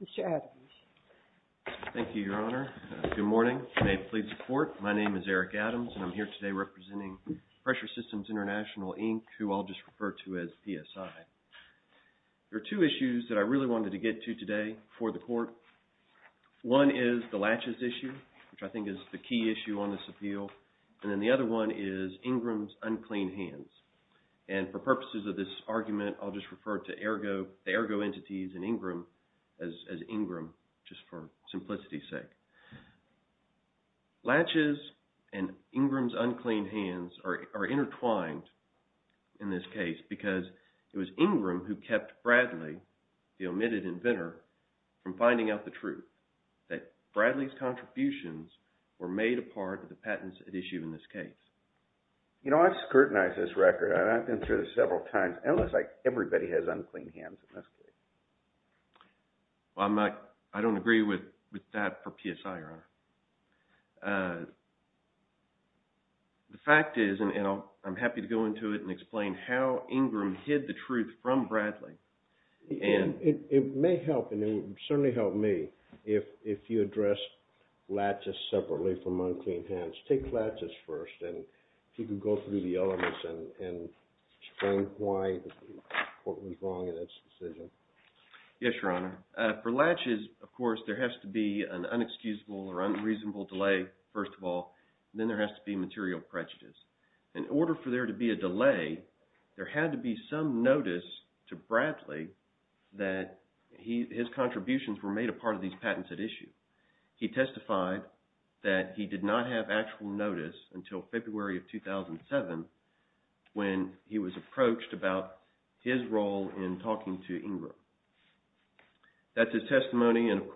Mr. Adams. Thank you, Your Honor. Good morning. I am Eric Adams and I am here today representing Pressure Systems International Inc., who I will just refer to as PSI. There are two issues that I really wanted to get to today for the Court. One is the latches issue, which I think is the key issue on this appeal, and then the other one is Ingram's unclean hands. And for purposes of this argument, I'll just refer to the AIRGO entities and Ingram as Ingram just for simplicity's sake. Latches and Ingram's unclean hands are intertwined in this case because it was Ingram who kept Bradley, the omitted inventor, from finding out the truth that Bradley's contributions were made a part of the patents at issue in this case. You know, I've scrutinized this record. I've been through this several times. It looks like everybody has unclean hands in this case. I don't agree with that for PSI, Your Honor. The fact is, and I'm happy to go into it and explain how Ingram hid the truth from Bradley. And it may help, and it would certainly help me, if you address latches separately from unclean hands. Take latches first, and if you could go through the elements and explain why the Court was wrong in its decision. Yes, Your Honor. For latches, of course, there has to be an unexcusable or unreasonable delay, first of all, then there has to be material prejudice. In order for there to be a delay, there had to be some notice to Bradley that his contributions were made a part of these patents at issue. He testified that he did not have actual notice until February of 2007 when he was approached about his role in talking to Ingram. That's his testimony, and of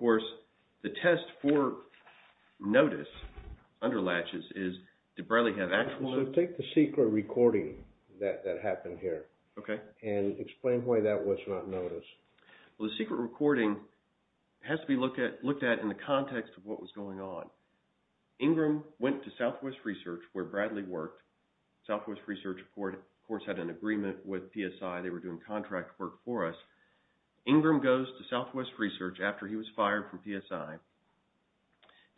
secret recording that happened here. Okay. And explain why that was not noticed. Well, the secret recording has to be looked at in the context of what was going on. Ingram went to Southwest Research, where Bradley worked. Southwest Research, of course, had an agreement with PSI. They were doing contract work for us. Ingram goes to Southwest Research after he was fired from PSI,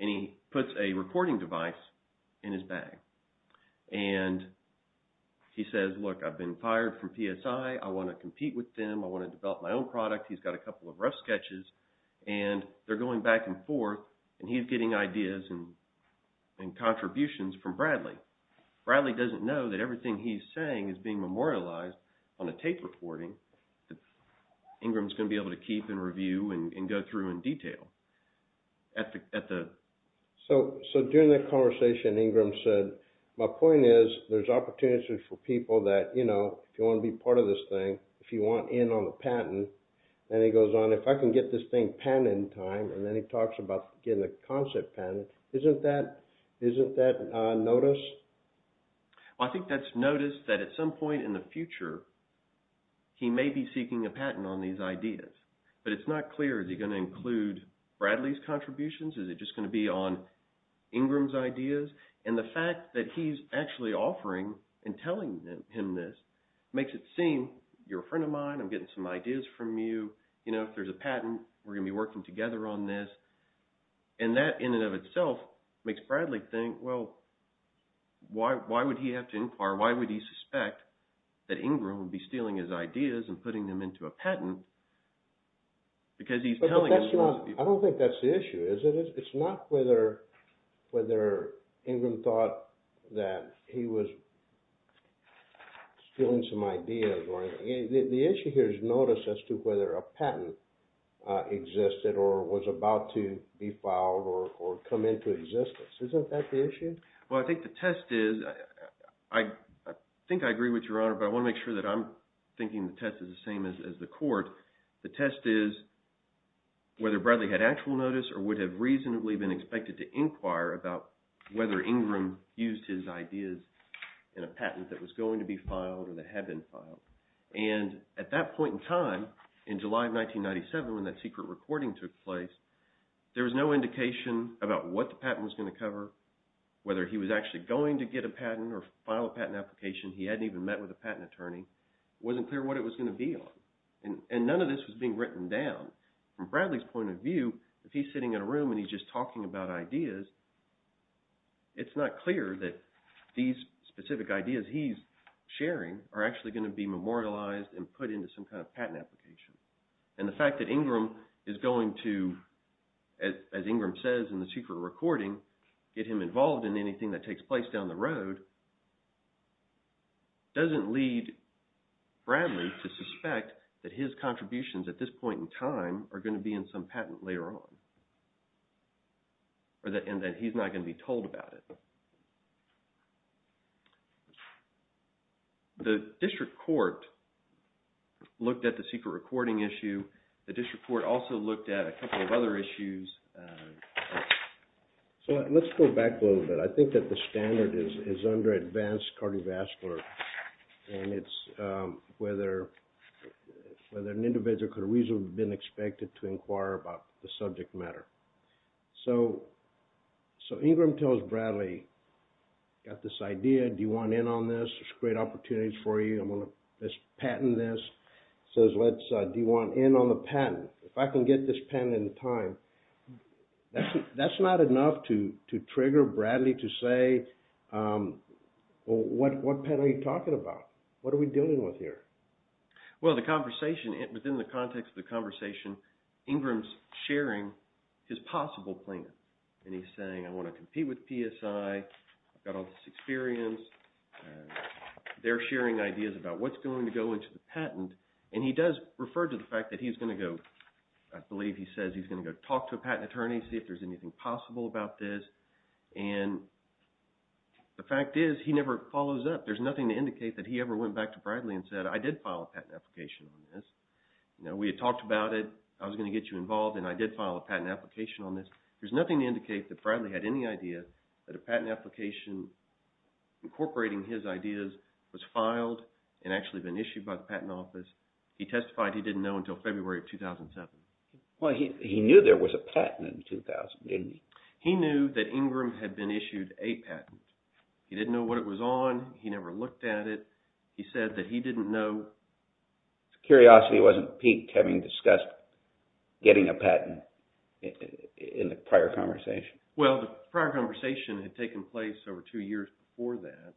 and he puts a recording device in his bag. And he says, look, I've been fired from PSI. I want to compete with them. I want to develop my own product. He's got a couple of rough sketches, and they're going back and forth, and he's getting ideas and contributions from Bradley. Bradley doesn't know that everything he's saying is being memorialized on a tape recording that Ingram's going to be able to keep and review and go through in detail. So during the conversation Ingram said, my point is, there's opportunities for people that, you know, if you want to be part of this thing, if you want in on the patent, and he goes on, if I can get this thing patented in time, and then he talks about getting a concept patent, isn't that noticed? I think that's noticed that at some point in the future he may be seeking a patent on these ideas. But it's not clear, is he going to include Bradley's contributions? Is it just going to be on Ingram's ideas? And the fact that he's actually offering and telling him this, makes it seem you're a friend of mine. I'm getting some ideas from you. You know, if there's a patent, we're going to be working together on this. And that in and of itself makes Bradley think, well, why would he have to inquire? Why would he suspect that Ingram would be stealing his ideas and putting them into a patent? Because he's telling... But that's not... I don't think that's the issue, is it? It's not whether Ingram thought that he was stealing some ideas or anything. The issue here is notice as to whether a patent existed or was about to be filed or come into existence. Isn't that the issue? Well, I think the test is... I think I agree with Your Honor, but I want to make sure that I'm thinking the test is the same as the court. The test is whether Bradley had actual notice or would have reasonably been expected to inquire about whether Ingram used his ideas in a patent that was going to be filed or that had been filed. And at that point in time, in July of 1997, when that secret recording took place, there was no indication about what the patent was going to cover, whether he was actually going to get a patent or file a patent application. He hadn't even met with a patent attorney. It wasn't clear what it was going to be on. And none of this was being written down. From Bradley's point of view, if he's sitting in a room and he's just talking about ideas, it's not clear that these specific ideas he's sharing are actually going to be memorialized and put into some kind of patent application. And the fact that Ingram is going to, as Ingram says in the secret recording, get him involved in anything that takes place down the road doesn't lead Bradley to suspect that his contributions at this point in time are going to be in some patent later on and that he's not going to be told about it. The district court looked at the secret recording issue. The district court looked at it and said, well, let's go back a little bit. I think that the standard is under advanced cardiovascular and it's whether an individual could have reasonably been expected to inquire about the subject matter. So Ingram tells Bradley, I've got this idea, do you want in on this? There's great opportunities for you. I'm going to patent this. He says, do you want in on the patent? If I can get this patent in time, that's not enough to trigger Bradley to say, well, what patent are you talking about? What are we dealing with here? Well, the conversation, within the context of the conversation, Ingram's sharing his possible plan. And he's saying, I want to compete with PSI. I've got all this experience. They're sharing ideas about what's going to go into the patent. And he does refer to the fact that he's going to go, I believe he says, he's going to go talk to a patent attorney, see if there's anything possible about this. And the fact is, he never follows up. There's nothing to indicate that he ever went back to Bradley and said, I did file a patent application on this. We had talked about it. I was going to get you involved and I did file a patent application on this. There's nothing to indicate that Bradley had any idea that a patent application incorporating his ideas was filed and actually been issued by the Patent Office. He testified he didn't know until February of 2007. Well, he knew there was a patent in 2008. He knew that Ingram had been issued a patent. He didn't know what it was on. He never looked at it. He said that he didn't know. Curiosity wasn't piqued having discussed getting a patent in the prior conversation. Well, the prior conversation had taken place over two years before that.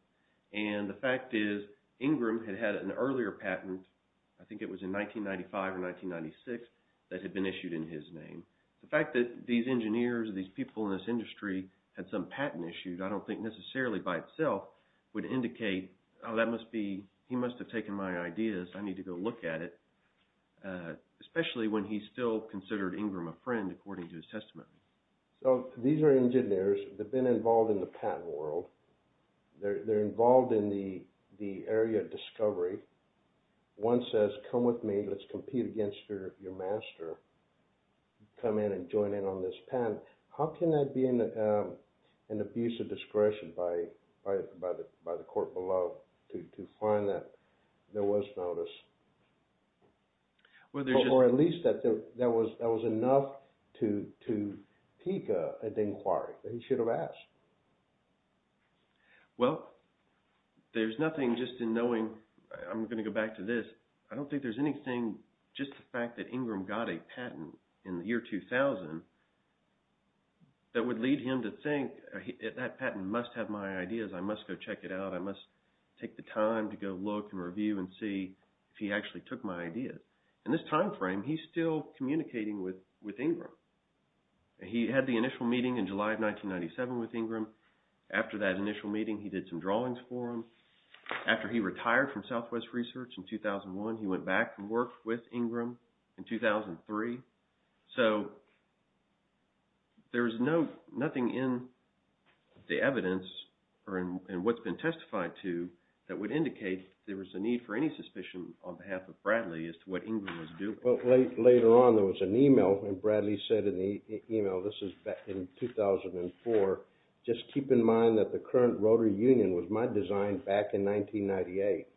And the fact is, Ingram had had an earlier patent, I think it was in 1995 or 1996, that had been issued in his name. The fact that these engineers, these people in this industry, had some patent issues, I don't think necessarily by itself would indicate, oh, that must be, he must have taken my ideas. I need to go look at it. Especially when he still considered Ingram a friend according to his testament. So, these are engineers that have been involved in the patent world. They're involved in the area of discovery. One says, come with me. Let's compete against your master. Come in and join in on this patent. How can that be an abuse of discretion by the court below to find that there was notice? Or at least that there was enough to pique an inquiry. He should have asked. Well, there's nothing just in knowing, I'm going to go back to this. I don't think there's anything, just the fact that Ingram got a patent in the year 2000, that would lead him to think, that patent must have my ideas. I must go check it out. I must take the time to go look and review and see if he actually took my ideas. In this time frame, he's still communicating with Ingram. He had the initial meeting in July of 1997 with Ingram. After that initial meeting, he did some drawings for him. After he retired from Southwest Research in 2001, he went back and worked with Ingram in 2003. So, there's nothing in the evidence or in what's been testified to that would indicate there was a need for any suspicion on behalf of Bradley as to what Ingram was doing. Well, later on, there was an email and Bradley said in the email, this is back in 2004, just keep in mind that the current Rotary Union was my design back in 1998.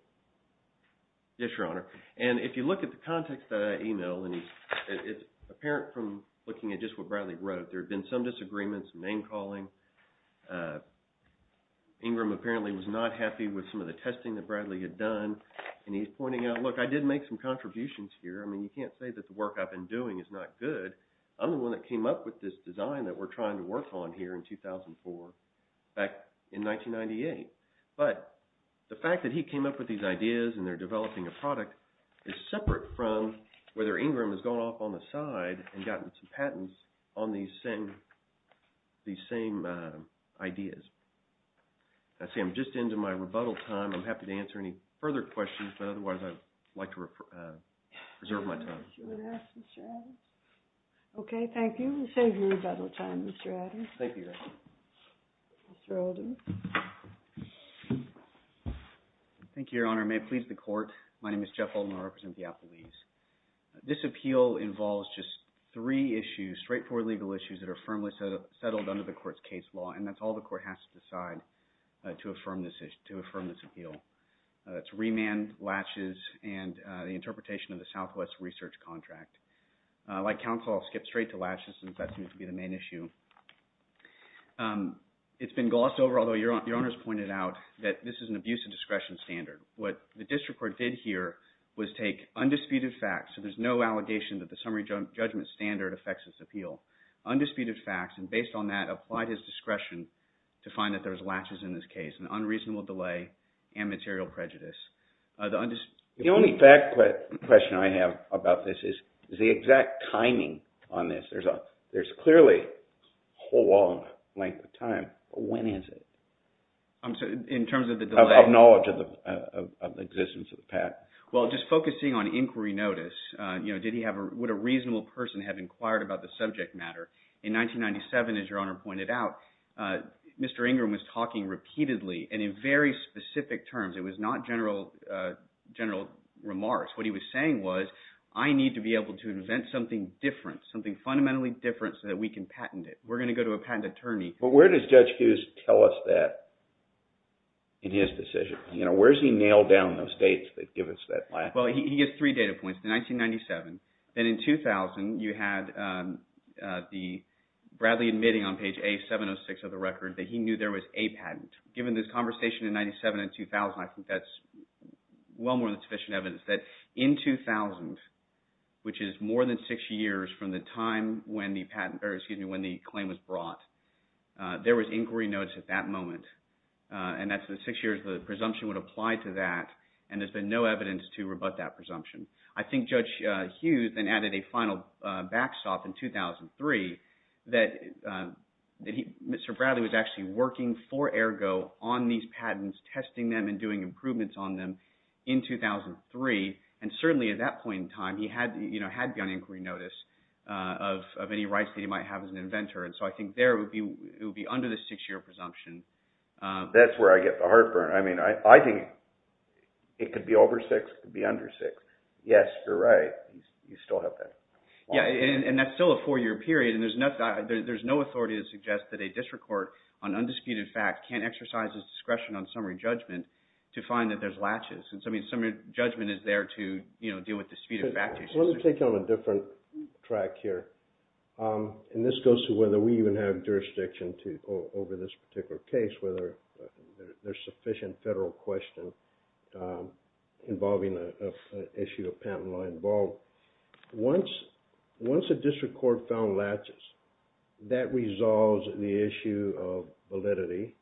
Yes, Your Honor. And if you look at the context that I emailed, and it's apparent from looking at just what Bradley wrote, there had been some disagreements, name-calling. Ingram apparently was not happy with some of the testing that Bradley had done, and he's pointing out, look, I did make some contributions here. I mean, you can't say that the work I've been doing is not good. I'm the one that came up with this design that we're looking at. But the fact that he came up with these ideas and they're developing a product is separate from whether Ingram has gone off on the side and gotten some patents on these same ideas. I see I'm just into my rebuttal time. I'm happy to answer any further questions, but otherwise, I'd like to reserve my time. Okay, thank you. We save your rebuttal time, Mr. Adder. Thank you, Your Honor. Mr. Oldham. Thank you, Your Honor. May it please the court, my name is Jeff Oldham, I represent the Applebee's. This appeal involves just three issues, straightforward legal issues that are firmly settled under the court's case law, and that's all the court has to decide to affirm this appeal. It's remand, latches, and the interpretation of the Southwest Research Contract. Like counsel, I'll skip straight to latches since that seems to be the main issue. It's been glossed over, although Your Honor's pointed out that this is an abuse of discretion standard. What the district court did here was take undisputed facts, so there's no allegation that the summary judgment standard affects this appeal, undisputed facts, and based on that, applied his discretion to find that there was latches in this case, an unreasonable delay, and material prejudice. The only question I have about this is the exact timing on this. There's clearly a long length of time, but when is it? In terms of the delay? Of knowledge of the existence of the patent. Well, just focusing on inquiry notice, did he have a – would a reasonable person have inquired about the subject matter? In 1997, as Your Honor pointed out, Mr. Ingram was talking repeatedly, and in very specific terms. It was not general remarks. What he was saying was, I need to be able to invent something different, something fundamentally different so that we can patent it. We're going to go to a patent attorney. But where does Judge Hughes tell us that in his decision? Where does he nail down those dates that give us that? Well, he gives three data points. In 1997, then in 2000, you had Bradley admitting on page A706 of the record that he knew there was a patent. Given this conversation in 1997 and 2000, I think that's well more than sufficient evidence that in 2000, which is more than six years from the time when the patent – or excuse me, when the claim was brought, there was inquiry notice at that moment. And that's the six years the presumption would apply to that, and there's been no evidence to rebut that presumption. I think Judge Hughes then added a final backstop in 2003 that Mr. Bradley was actually working for Ergo on these patents, testing them, and doing improvements on them in 2003. And certainly at that point in time, he had beyond inquiry notice of any rights that he might have as an inventor. And so I think there it would be under the six-year presumption. That's where I get the heartburn. I mean, I think it could be over six, it could be under six. Yes, you're right. You still have that. Yeah, and that's still a four-year period, and there's no authority to suggest that a district court on undisputed fact can't exercise its discretion on summary judgment to find that there's latches. And so I mean, summary judgment is there to deal with disputed fact. Let me take you on a different track here. And this goes to whether we even have jurisdiction over this particular case, whether there's sufficient federal question involving an issue of patent law involved. Once a district court found latches, that resolves the issue of validity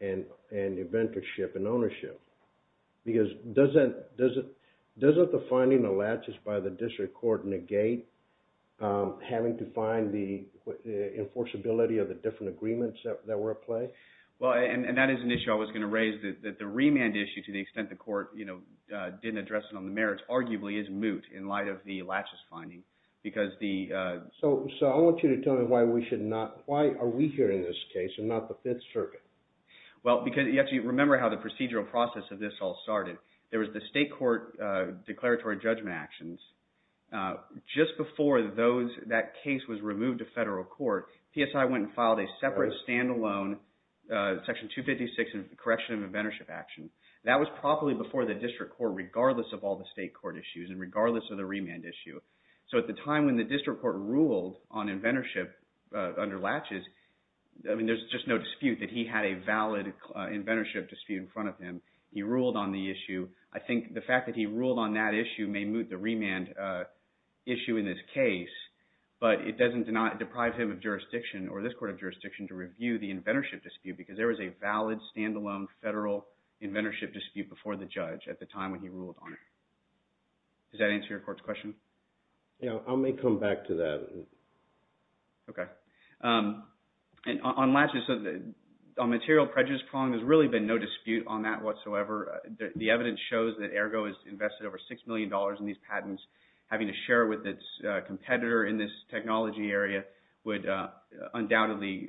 and inventorship and ownership. Because doesn't the finding of latches by the district court negate having to find the enforceability of the different agreements that were at play? Well, and that is an issue I was going to raise, that the remand issue, to the extent the court, you know, didn't address it on the merits, arguably is moot in light of the latches finding. So I want you to tell me why we should not, why are we here in this case and not the Fifth Circuit? Well, because you have to remember how the procedural process of this all started. There was, just before those, that case was removed to federal court, PSI went and filed a separate standalone section 256 in correction of inventorship action. That was properly before the district court, regardless of all the state court issues and regardless of the remand issue. So at the time when the district court ruled on inventorship under latches, I mean, there's just no dispute that he had a valid inventorship dispute in front of him. He ruled on the issue. I think the fact that he ruled on that issue may moot the remand issue in this case, but it doesn't deprive him of jurisdiction or this court of jurisdiction to review the inventorship dispute because there was a valid standalone federal inventorship dispute before the judge at the time when he ruled on it. Does that answer your court's question? Yeah, I may come back to that. Okay. And on latches, on material prejudice prong, there's really been no dispute on that whatsoever. The evidence shows that Ergo has invested over $6 million in these patents. Having to share with its competitor in this technology area would undoubtedly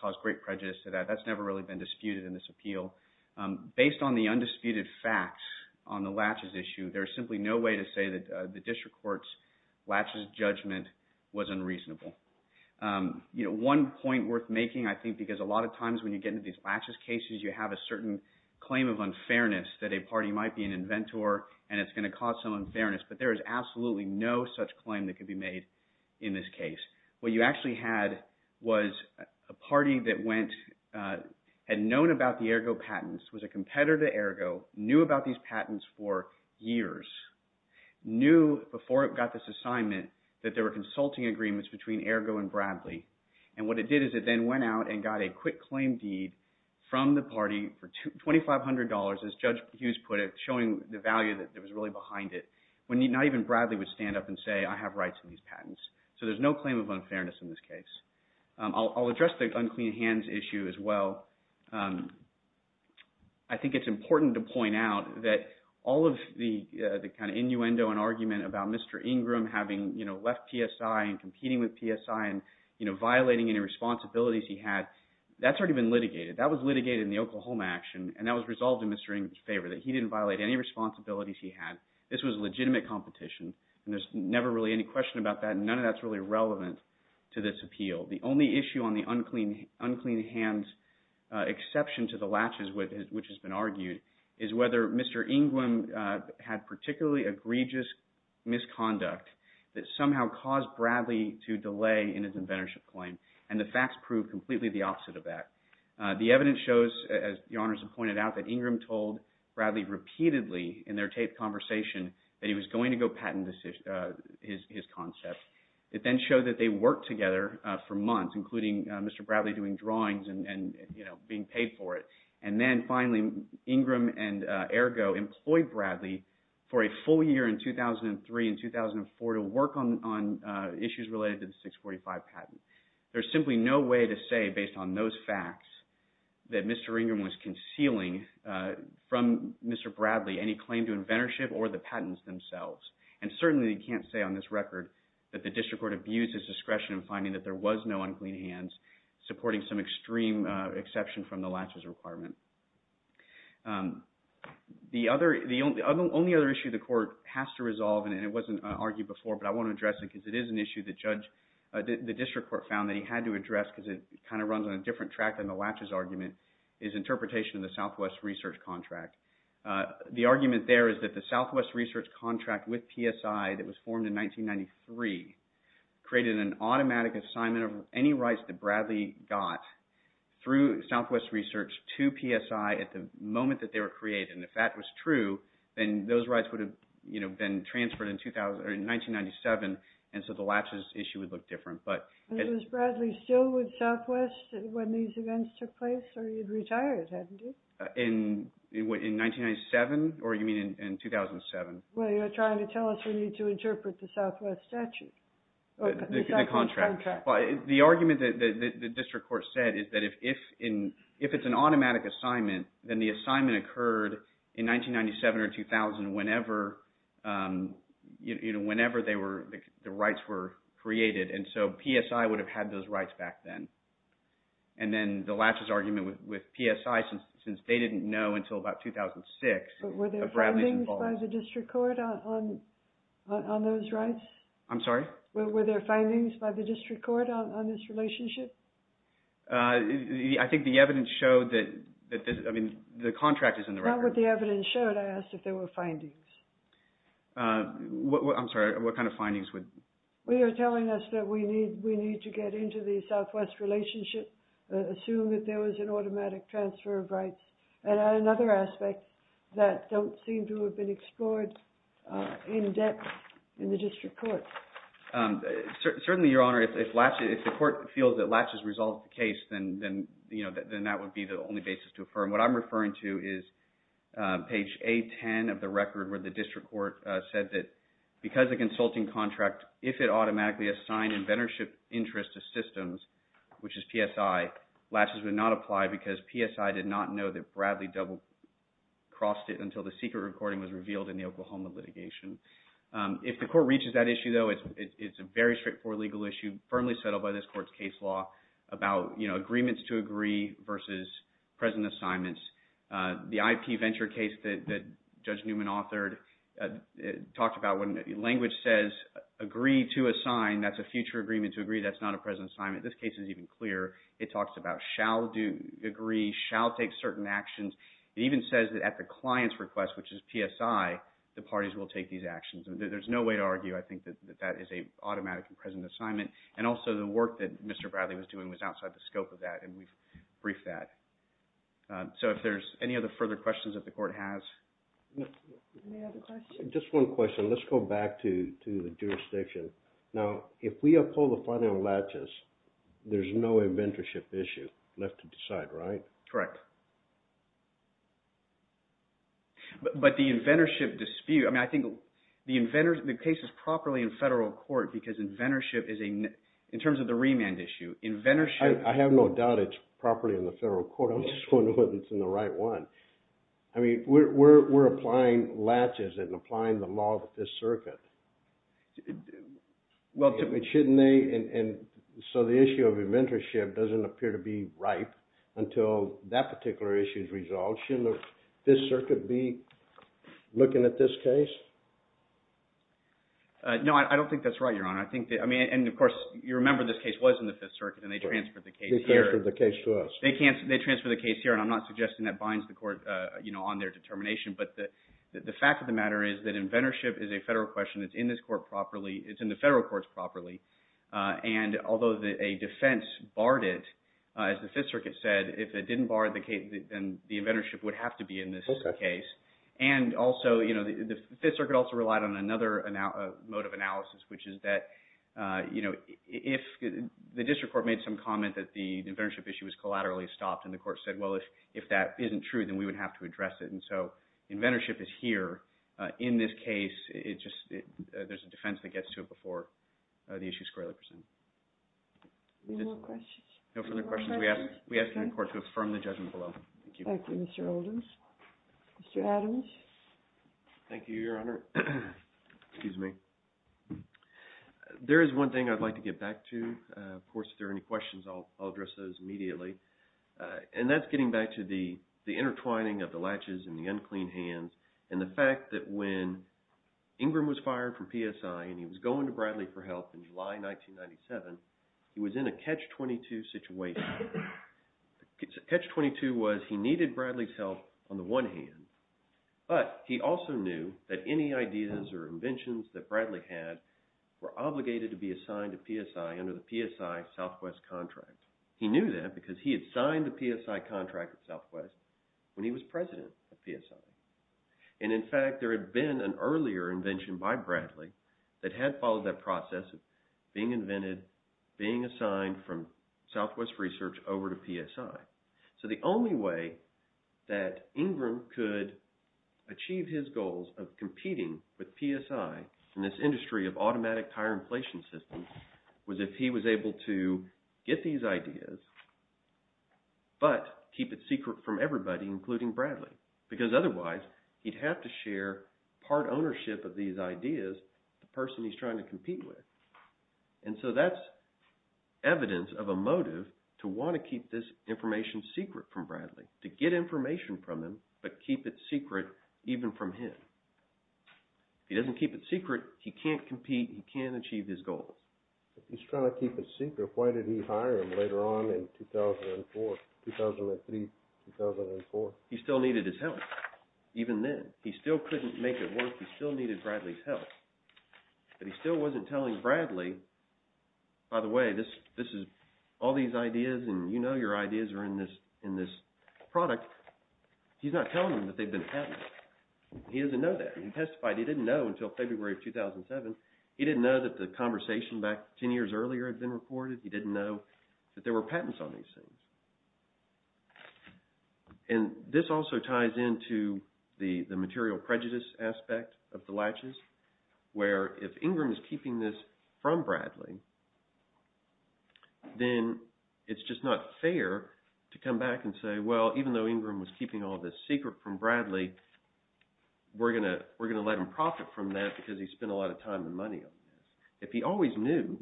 cause great prejudice to that. That's never really been disputed in this appeal. Based on the undisputed facts on the latches issue, there's simply no way to say that the district court's latches judgment was unreasonable. You know, one point worth making, I think, because a lot of times when you get into these latches cases, you have a certain claim of unfairness that a party might be an inventor and it's going to cause some unfairness, but there is absolutely no such claim that could be made in this case. What you actually had was a party that had known about the Ergo patents, was a competitor to Ergo, knew about these patents for years, knew before it got this assignment that there were consulting agreements between Ergo and Bradley. And what it did is it then went out and got a quick claim deed from the party for $2,500, as Judge Hughes put it, showing the value that was really behind it, when not even Bradley would stand up and say, I have rights to these patents. So there's no claim of unfairness in this case. I'll address the unclean hands issue as well. I think it's important to point out that all of the kind of innuendo and argument about Mr. Ingram having, you know, left PSI and competing with PSI and, you know, violating any responsibilities he had, that's already been litigated. That was litigated in the Oklahoma action and that was resolved in Mr. Ingram's favor, that he didn't violate any responsibilities he had. This was legitimate competition and there's never really any question about that. None of that's really relevant to this appeal. The only issue on the unclean hands exception to the latches which has been argued is whether Mr. Ingram had particularly egregious misconduct that somehow caused Bradley to delay in his inventorship claim. And the facts prove completely the opposite of that. The evidence shows, as Your Honors have pointed out, that Ingram told Bradley repeatedly in their taped conversation that he was going to go patent his concept. It then showed that they worked together for months, including Mr. Bradley doing drawings and, you know, being paid for it. And then finally, Ingram and Ergo employed Bradley for a full year in 2003 and 2004 to work on issues related to the 1845 patent. There's simply no way to say based on those facts that Mr. Ingram was concealing from Mr. Bradley any claim to inventorship or the patents themselves. And certainly you can't say on this record that the district court abused his discretion in finding that there was no unclean hands supporting some extreme exception from the latches requirement. The only other issue the court has to resolve, and it wasn't argued before, but I want to address it because it is an issue the district court found that he had to address because it kind of runs on a different track than the latches argument, is interpretation of the Southwest Research Contract. The argument there is that the Southwest Research Contract with PSI that was formed in 1993 created an automatic assignment of any rights that Bradley got through Southwest Research to PSI at the moment that they were created. And if that was true, then those rights would have, you know, been transferred in 1997, and so the latches issue would look different. Was Bradley still with Southwest when these events took place? Or he had retired, hadn't he? In 1997? Or you mean in 2007? Well, you're trying to tell us we need to interpret the Southwest statute. The contract. The argument that the district court said is that if it's an automatic assignment, then the assignment you know, whenever they were, the rights were created, and so PSI would have had those rights back then. And then the latches argument with PSI, since they didn't know until about 2006. Were there findings by the district court on those rights? I'm sorry? Were there findings by the district court on this relationship? I think the evidence showed that, I mean, the contract is in the record. Not what the evidence showed. I asked if there were findings. I'm sorry, what kind of findings? Well, you're telling us that we need to get into the Southwest relationship, assume that there was an automatic transfer of rights, and add another aspect that don't seem to have been explored in depth in the district court. Certainly, Your Honor, if the court feels that latches resolved the case, then you know, then that would be the only basis to is page A-10 of the record where the district court said that because the consulting contract, if it automatically assigned inventorship interest to systems, which is PSI, latches would not apply because PSI did not know that Bradley double crossed it until the secret recording was revealed in the Oklahoma litigation. If the court reaches that issue, though, it's a very straightforward legal issue firmly settled by this court's case law about, you know, agreements to agree versus present assignments. The IP venture case that Judge Newman authored talked about when language says agree to assign, that's a future agreement to agree, that's not a present assignment. This case is even clearer. It talks about shall agree, shall take certain actions. It even says that at the client's request, which is PSI, the parties will take these actions. There's no way to argue, I think, that that is an automatic and present assignment, and also the work that Mr. Bradley was doing was outside the scope of that, and we've briefed that. So if there's any other further questions that the court has? Just one question. Let's go back to the jurisdiction. Now, if we uphold the final latches, there's no inventorship issue left to decide, right? Correct. But the inventorship dispute, I mean, I think the inventors, the case is properly in federal court because inventorship is a, in terms of the remand issue, inventorship... I have no doubt it's properly in the federal court. I'm just wondering whether it's in the right one. I mean, we're applying latches and applying the law of the Fifth Circuit. Well, shouldn't they, and so the issue of inventorship doesn't appear to be ripe until that particular issue is resolved. Shouldn't the Fifth Circuit be looking at this case? No, I don't think that's right, Your Honor. I think that, I mean, and of course, you remember this case was in the Fifth Circuit, and they transferred the case here. They transferred the case to us. They transferred the case here, and I'm not suggesting that binds the court, you know, on their determination, but the fact of the matter is that inventorship is a federal question. It's in this court properly. It's in the federal courts properly, and although a defense barred it, as the Fifth Circuit said, if it didn't bar the case, then the inventorship would have to be in this case. And also, you know, the Fifth Circuit also relied on another mode of analysis, which is that, you know, if the district court made some comment that the inventorship issue was collaterally stopped, and the court said, well, if that isn't true, then we would have to address it, and so inventorship is here. In this case, it just, there's a defense that gets to it before the issue is squarely presented. No further questions? No further questions? We ask the attorney. Thank you, Your Honor. Excuse me. There is one thing I'd like to get back to. Of course, if there are any questions, I'll address those immediately, and that's getting back to the intertwining of the latches and the unclean hands, and the fact that when Ingram was fired from PSI, and he was going to Bradley for help in July 1997, he was in a catch-22 situation. Catch-22 was he needed Bradley's help on the one hand, but he also knew that any ideas or inventions that Bradley had were obligated to be assigned to PSI under the PSI Southwest contract. He knew that because he had signed the PSI contract with Southwest when he was president of PSI, and in fact, there had been an earlier invention by Bradley that had followed that process of being invented, being assigned from Southwest Research over to PSI. So the only way that Ingram could achieve his goals of competing with PSI in this industry of automatic tire inflation systems was if he was able to get these ideas, but keep it secret from the person he's trying to compete with. And so that's evidence of a motive to want to keep this information secret from Bradley, to get information from him, but keep it secret even from him. If he doesn't keep it secret, he can't compete, he can't achieve his goal. If he's trying to keep it secret, why did he hire him later on in 2004, 2003, 2004? He still needed his help, even then. He still couldn't make it work, he still needed Bradley's help, but he still wasn't telling Bradley, by the way, this is all these ideas and you know your ideas are in this product. He's not telling him that they've been patented. He doesn't know that. He testified he didn't know until February of 2007. He didn't know that the conversation back 10 years earlier had been recorded. He didn't know that there were patents on these things. And this also ties into the material prejudice aspect of the Latches, where if Ingram is keeping this from Bradley, then it's just not fair to come back and say, well, even though Ingram was keeping all this secret from Bradley, we're going to let him profit from that because he spent a lot of time and money on this. If he always knew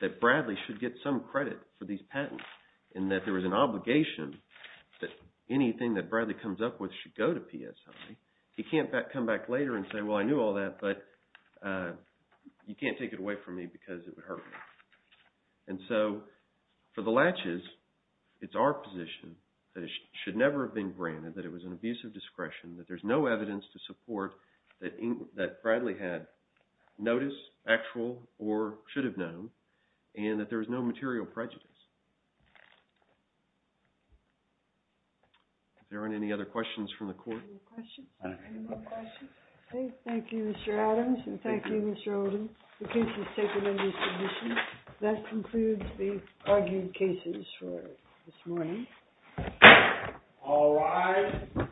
that Bradley should get some credit for these patents, and that there was an obligation that anything that Bradley comes up with should go to PSI, he can't come back later and say, well, I knew all that, but you can't take it away from me because it would hurt me. And so for the Latches, it's our position that it should never have been granted, that it was an abuse of discretion, that there's no evidence to support that Bradley had notice, actual, or should have known, and that there is no material prejudice. If there aren't any other questions from the court. Any more questions? Okay, thank you, Mr. Adams, and thank you, Mr. Oden. The case is taken into submission. That concludes the argued cases for this morning. All rise.